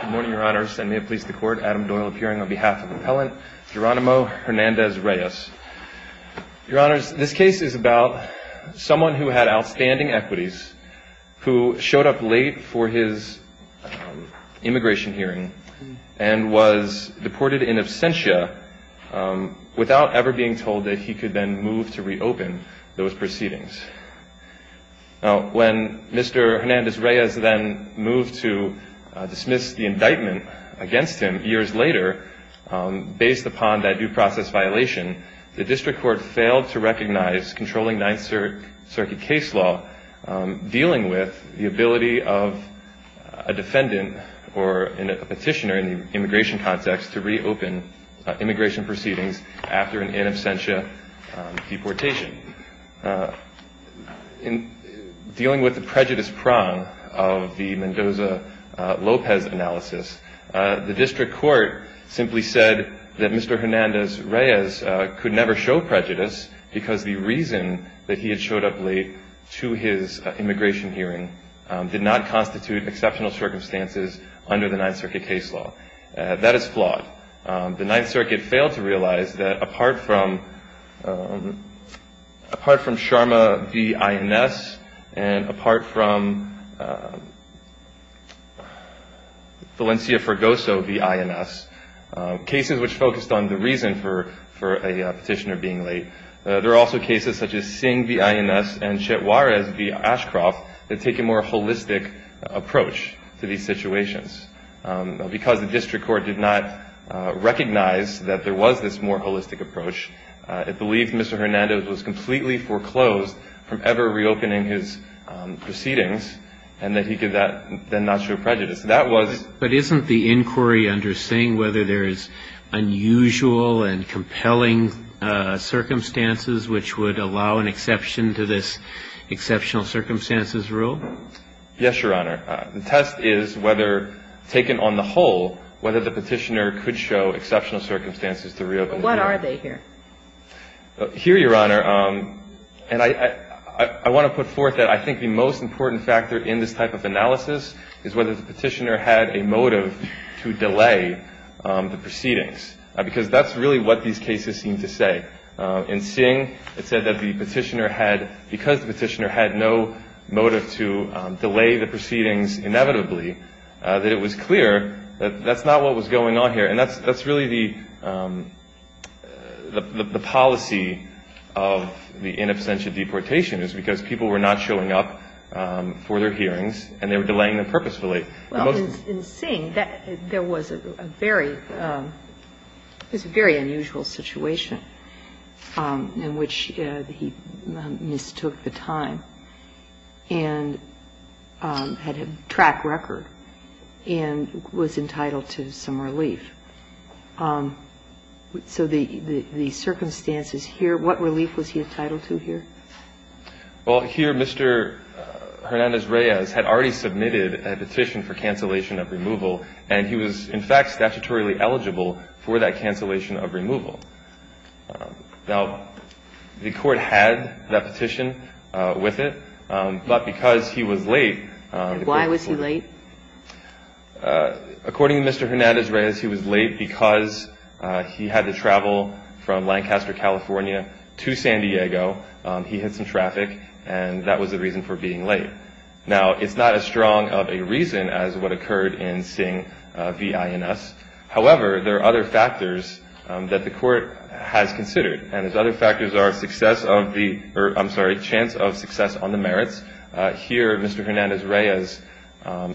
Good morning, your honors. I may have pleased the court. Adam Doyle appearing on behalf of Appellant Jeronimo Hernandez-Reyes. Your honors, this case is about someone who had outstanding equities, who showed up late for his immigration hearing, and was deported in absentia without ever being told that he could then move to reopen those proceedings. Now, when Mr. Hernandez-Reyes then moved to dismiss the indictment against him years later, based upon that due process violation, the district court failed to recognize controlling Ninth Circuit case law dealing with the ability of a defendant or a petitioner in the immigration proceedings after an in absentia deportation. In dealing with the prejudice prong of the Mendoza-Lopez analysis, the district court simply said that Mr. Hernandez-Reyes could never show prejudice because the reason that he had showed up late to his immigration hearing did not constitute exceptional circumstances under the Ninth Circuit case law. That is flawed. The Ninth Circuit failed to realize that apart from Sharma v. INS and apart from Valencia-Fergoso v. INS, cases which focused on the reason for a petitioner being late, there are also cases such as Singh v. INS and Chet Juarez v. Ashcroft that take a more holistic approach to these situations. Because the district court did not recognize that there was this more holistic approach, it believed Mr. Hernandez was completely foreclosed from ever reopening his proceedings and that he could then not show prejudice. That was the case. But isn't the inquiry under Singh whether there is unusual and compelling circumstances which would allow an exception to this exceptional circumstances rule? Yes, Your Honor. The test is whether, taken on the whole, whether the petitioner could show exceptional circumstances to reopen. What are they here? Here, Your Honor, and I want to put forth that I think the most important factor in this type of analysis is whether the petitioner had a motive to delay the proceedings, because that's really what these cases seem to say. In Singh, it said that the petitioner had, because the petitioner had no motive to delay the proceedings inevitably, that it was clear that that's not what was going on here. And that's really the policy of the in absentia deportation, is because people were not showing up for their hearings, and they were delaying them purposefully. In Singh, there was a very unusual situation in which he mistook the time and had a track record and was entitled to some relief. So the circumstances here, what relief was he entitled to here? Well, here, Mr. Hernandez-Reyes had already submitted a petition for cancellation of removal, and he was, in fact, statutorily eligible for that cancellation of removal. Now, the Court had that petition with it, but because he was late, the Court was late. Why was he late? According to Mr. Hernandez-Reyes, he was late because he had to travel from Lancaster, California to San Diego. He had some traffic, and that was the reason for being late. Now, it's not as strong of a reason as what occurred in Singh v. INS. However, there are other factors that the Court has considered, and those other factors are success of the ‑‑ or, I'm sorry, chance of success on the merits. Here, Mr. Hernandez-Reyes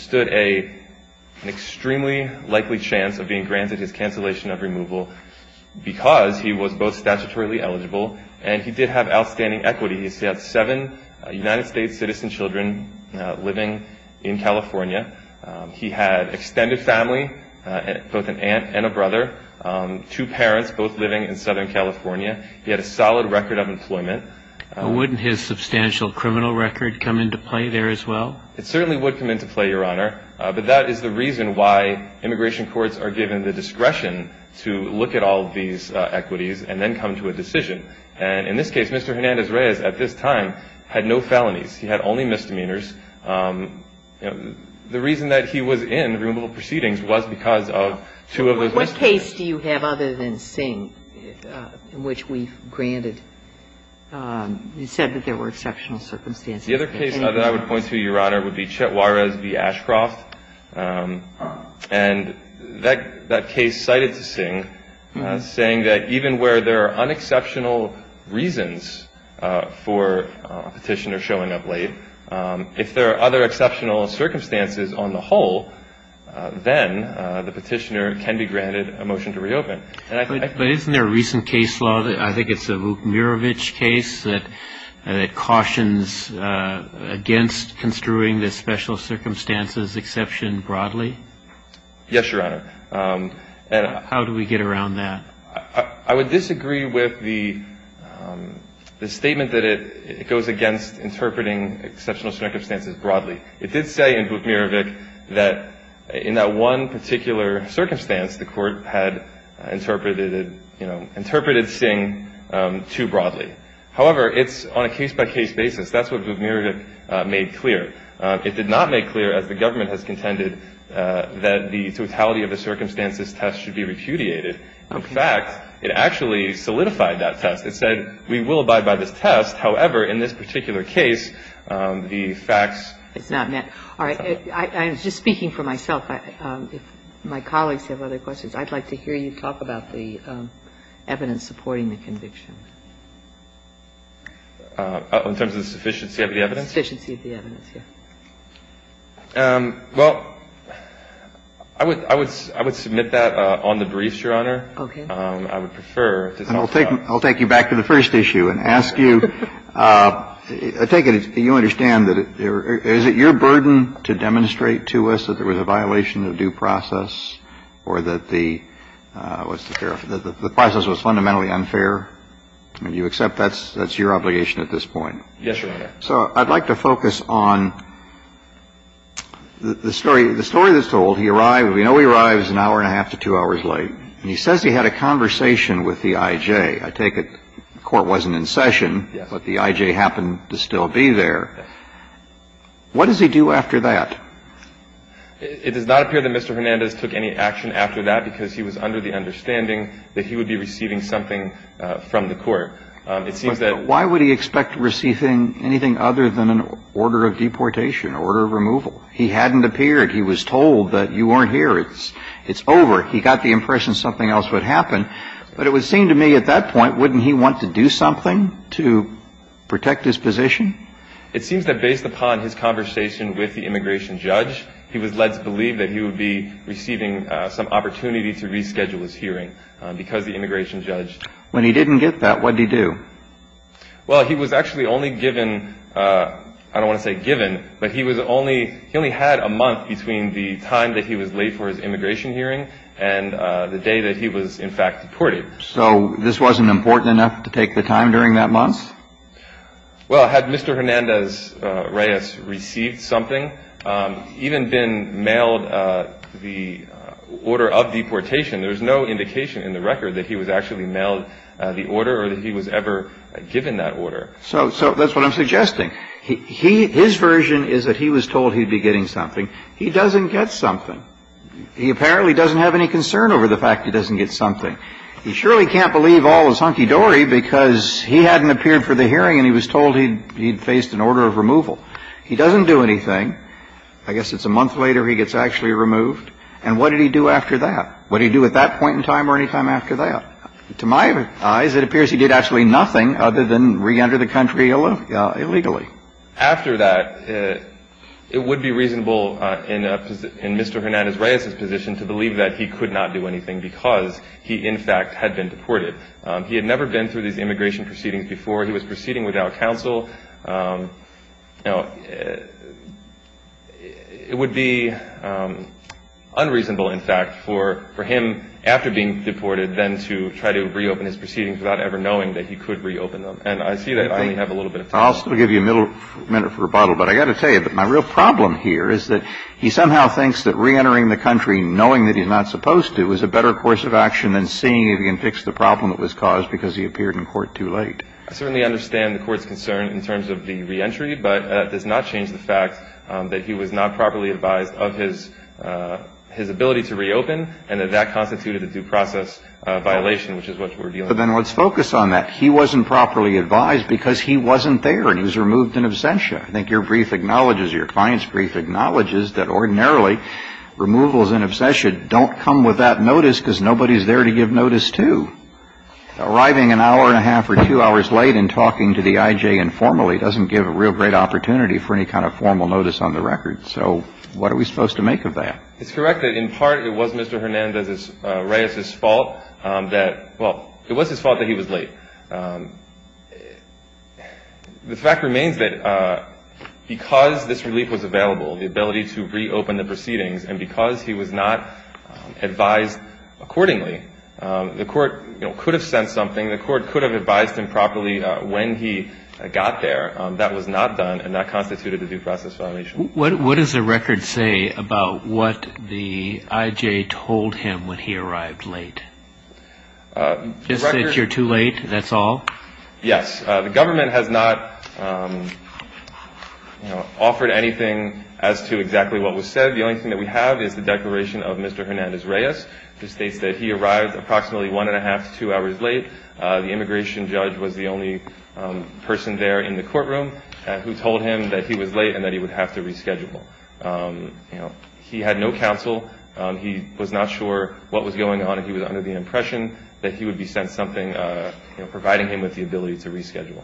stood an extremely likely chance of being granted his cancellation of removal because he was both statutorily eligible and he did have outstanding equity. He had seven United States citizen children living in California. He had extended family, both an aunt and a brother, two parents both living in Southern California. He had a solid record of employment. Wouldn't his substantial criminal record come into play there as well? It certainly would come into play, Your Honor, but that is the reason why immigration courts are given the discretion to look at all of these equities and then come to a decision. And in this case, Mr. Hernandez-Reyes at this time had no felonies. He had only misdemeanors. The reason that he was in removal proceedings was because of two of those misdemeanors. What case do you have other than Singh in which we've granted ‑‑ you said that there were exceptional circumstances. The other case that I would point to, Your Honor, would be Chet Juarez v. Ashcroft. And that case cited Singh as saying that even where there are unexceptional reasons for a petitioner showing up late, if there are other exceptional circumstances on the whole, then the petitioner can be granted a motion to reopen. But isn't there a recent case law, I think it's the Vukmirovic case, that cautions against construing the special circumstances exception broadly? Yes, Your Honor. How do we get around that? I would disagree with the statement that it goes against interpreting exceptional circumstances broadly. It did say in Vukmirovic that in that one particular circumstance the court had interpreted, you know, interpreted Singh too broadly. However, it's on a case-by-case basis. That's what Vukmirovic made clear. It did not make clear, as the government has contended, that the totality of the circumstances test should be repudiated. In fact, it actually solidified that test. It said we will abide by this test. However, in this particular case, the facts. It's not met. All right. I'm just speaking for myself. If my colleagues have other questions, I'd like to hear you talk about the evidence supporting the conviction. In terms of the sufficiency of the evidence? Sufficiency of the evidence, yes. Well, I would submit that on the briefs, Your Honor. Okay. I would prefer to talk about it. I'll take you back to the first issue and ask you. I take it you understand that is it your burden to demonstrate to us that there was a violation of due process or that the process was fundamentally unfair? Do you accept that's your obligation at this point? Yes, Your Honor. So I'd like to focus on the story that's told. He arrived. We know he arrives an hour and a half to two hours late. And he says he had a conversation with the I.J. I take it the court wasn't in session, but the I.J. happened to still be there. What does he do after that? It does not appear that Mr. Hernandez took any action after that because he was under the understanding that he would be receiving something from the court. It seems that why would he expect receiving anything other than an order of deportation, order of removal? He hadn't appeared. He was told that you weren't here. It's over. He got the impression something else would happen. But it would seem to me at that point, wouldn't he want to do something to protect his position? It seems that based upon his conversation with the immigration judge, he was led to believe that he would be receiving some opportunity to reschedule his hearing because the immigration judge When he didn't get that, what did he do? Well, he was actually only given, I don't want to say given, but he was only, he only had a month between the time that he was late for his immigration hearing and the day that he was in fact deported. So this wasn't important enough to take the time during that month? Well, had Mr. Hernandez Reyes received something, even been mailed the order of deportation, there's no indication in the record that he was actually mailed the order or that he was ever given that order. So that's what I'm suggesting. His version is that he was told he'd be getting something. He doesn't get something. He apparently doesn't have any concern over the fact he doesn't get something. He surely can't believe all his hunky-dory because he hadn't appeared for the hearing and he was told he'd faced an order of removal. He doesn't do anything. I guess it's a month later he gets actually removed. And what did he do after that? What did he do at that point in time or any time after that? To my eyes, it appears he did actually nothing other than reenter the country illegally. After that, it would be reasonable in Mr. Hernandez Reyes's position to believe that he could not do anything because he in fact had been deported. He had never been through these immigration proceedings before. He was proceeding without counsel. Now, it would be unreasonable, in fact, for him, after being deported, then to try to reopen his proceedings without ever knowing that he could reopen them. And I see that I only have a little bit of time. I'll still give you a minute for rebuttal. But I've got to tell you that my real problem here is that he somehow thinks that reentering the country knowing that he's not supposed to is a better course of action than seeing if he can fix the problem that was caused because he appeared in court too late. I certainly understand the court's concern in terms of the reentry, but that does not change the fact that he was not properly advised of his ability to reopen and that that constituted a due process violation, which is what we're dealing with. But then let's focus on that. He wasn't properly advised because he wasn't there and he was removed in absentia. I think your brief acknowledges, your client's brief acknowledges, that ordinarily removals in absentia don't come without notice because nobody's there to give notice to. Arriving an hour and a half or two hours late and talking to the I.J. informally doesn't give a real great opportunity for any kind of formal notice on the record. So what are we supposed to make of that? It's correct that in part it was Mr. Hernandez's, Reyes's fault that, well, it was his fault that he was late. The fact remains that because this relief was available, the ability to reopen the proceedings, and because he was not advised accordingly, the court could have sent something, the court could have advised him properly when he got there. That was not done and that constituted a due process violation. What does the record say about what the I.J. told him when he arrived late? Just that you're too late, that's all? Yes. The government has not offered anything as to exactly what was said. The only thing that we have is the declaration of Mr. Hernandez, Reyes, which states that he arrived approximately one and a half to two hours late. The immigration judge was the only person there in the courtroom who told him that he was late and that he would have to reschedule. He had no counsel. He was not sure what was going on and he was under the impression that he would be sent something, providing him with the ability to reschedule.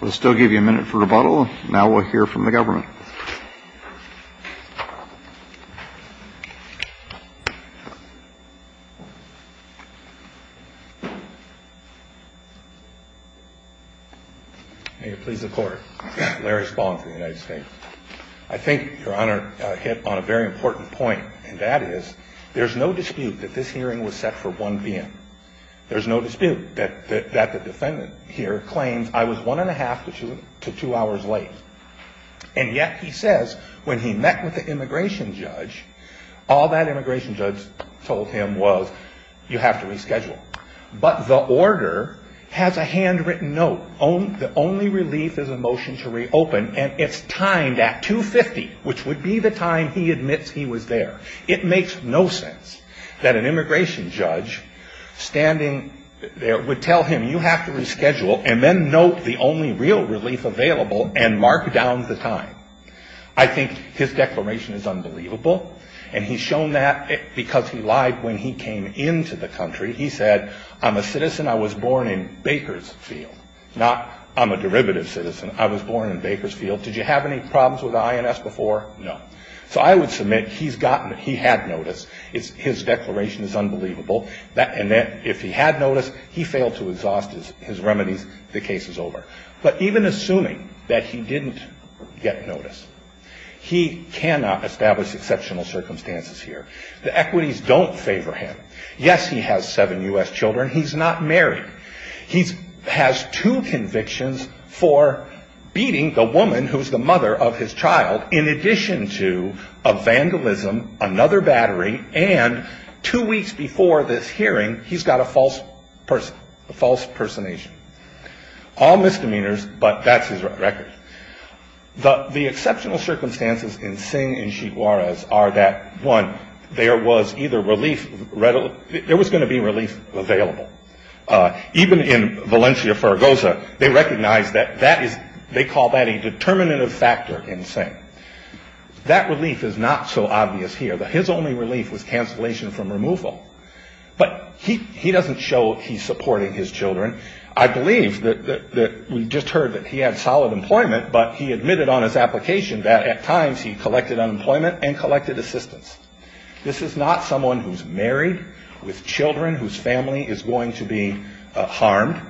We'll still give you a minute for rebuttal. Now we'll hear from the government. May it please the Court. Larry Spohn for the United States. I think Your Honor hit on a very important point, and that is there's no dispute that this hearing was set for 1 p.m. There's no dispute that the defendant here claims I was one and a half to two hours late, and yet he says when he met with the immigration judge, all that immigration judge told him was you have to reschedule. But the order has a handwritten note, the only relief is a motion to reopen, and it's timed at 2.50, which would be the time he admits he was there. It makes no sense that an immigration judge standing there would tell him you have to reschedule and then note the only real relief available and mark down the time. I think his declaration is unbelievable, and he's shown that because he lied when he came into the country. He said I'm a citizen. I was born in Bakersfield, not I'm a derivative citizen. I was born in Bakersfield. Did you have any problems with the INS before? No. So I would submit he's gotten it. He had notice. His declaration is unbelievable. If he had notice, he failed to exhaust his remedies. The case is over. But even assuming that he didn't get notice, he cannot establish exceptional circumstances here. The equities don't favor him. Yes, he has seven U.S. children. He's not married. He has two convictions for beating the woman who's the mother of his child in addition to a vandalism, another battery, and two weeks before this hearing, he's got a false person, a false personation. All misdemeanors, but that's his record. The exceptional circumstances in Singh and Chiguares are that, one, there was either relief, there was going to be relief available. Even in Valencia, Fargoza, they recognize that that is, they call that a determinative factor in Singh. That relief is not so obvious here. His only relief was cancellation from removal. But he doesn't show he's supporting his children. I believe that we just heard that he had solid employment, but he admitted on his application that at times he collected unemployment and collected assistance. This is not someone who's married with children whose family is going to be harmed,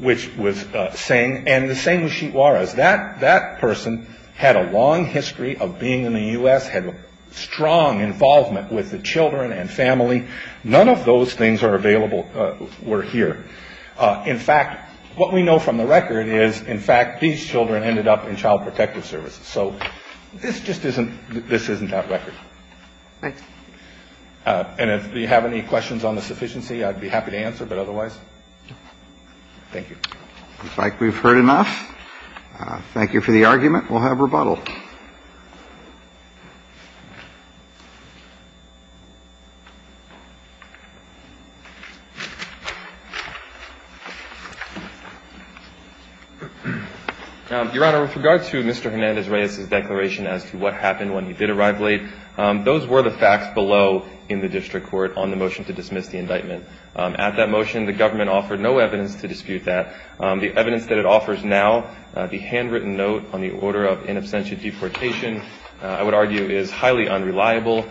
which was Singh. And the same with Chiguares. That person had a long history of being in the U.S., had strong involvement with the children and family. None of those things are available were here. In fact, what we know from the record is, in fact, these children ended up in child protective services. So this just isn't, this isn't that record. And if you have any questions on the sufficiency, I'd be happy to answer, but otherwise, thank you. In fact, we've heard enough. Thank you for the argument. We'll have rebuttal. Your Honor, with regard to Mr. Hernandez-Reyes' declaration as to what happened when he did arrive late, those were the facts below in the district court on the motion to dismiss the indictment. At that motion, the government offered no evidence to dispute that. The evidence that it offers now, the handwritten note on the order of in absentia deportation, I would argue is highly unreliable.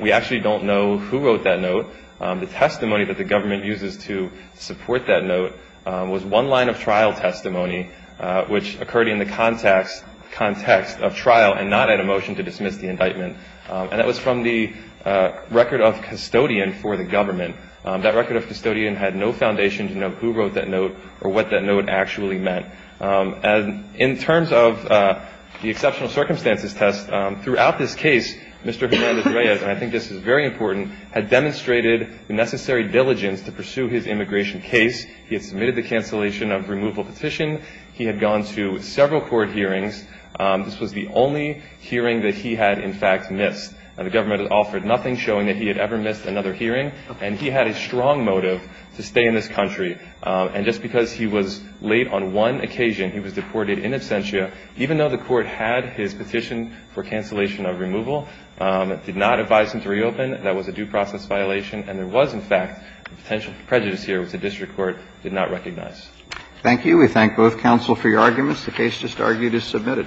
We actually don't know who wrote that note. The testimony that the government uses to support that note was one line of trial testimony, which occurred in the context of trial and not at a motion to dismiss the indictment. And that was from the record of custodian for the government. That record of custodian had no foundation to know who wrote that note or what that note actually meant. In terms of the exceptional circumstances test, throughout this case, Mr. Hernandez-Reyes, and I think this is very important, had demonstrated the necessary diligence to pursue his immigration case. He had submitted the cancellation of removal petition. He had gone to several court hearings. This was the only hearing that he had, in fact, missed. And the government offered nothing, showing that he had ever missed another hearing. And he had a strong motive to stay in this country. And just because he was late on one occasion, he was deported in absentia, even though the court had his petition for cancellation of removal, did not advise him to reopen. That was a due process violation. And there was, in fact, a potential prejudice here, which the district court did not recognize. Thank you. We thank both counsel for your arguments. The case just argued is submitted.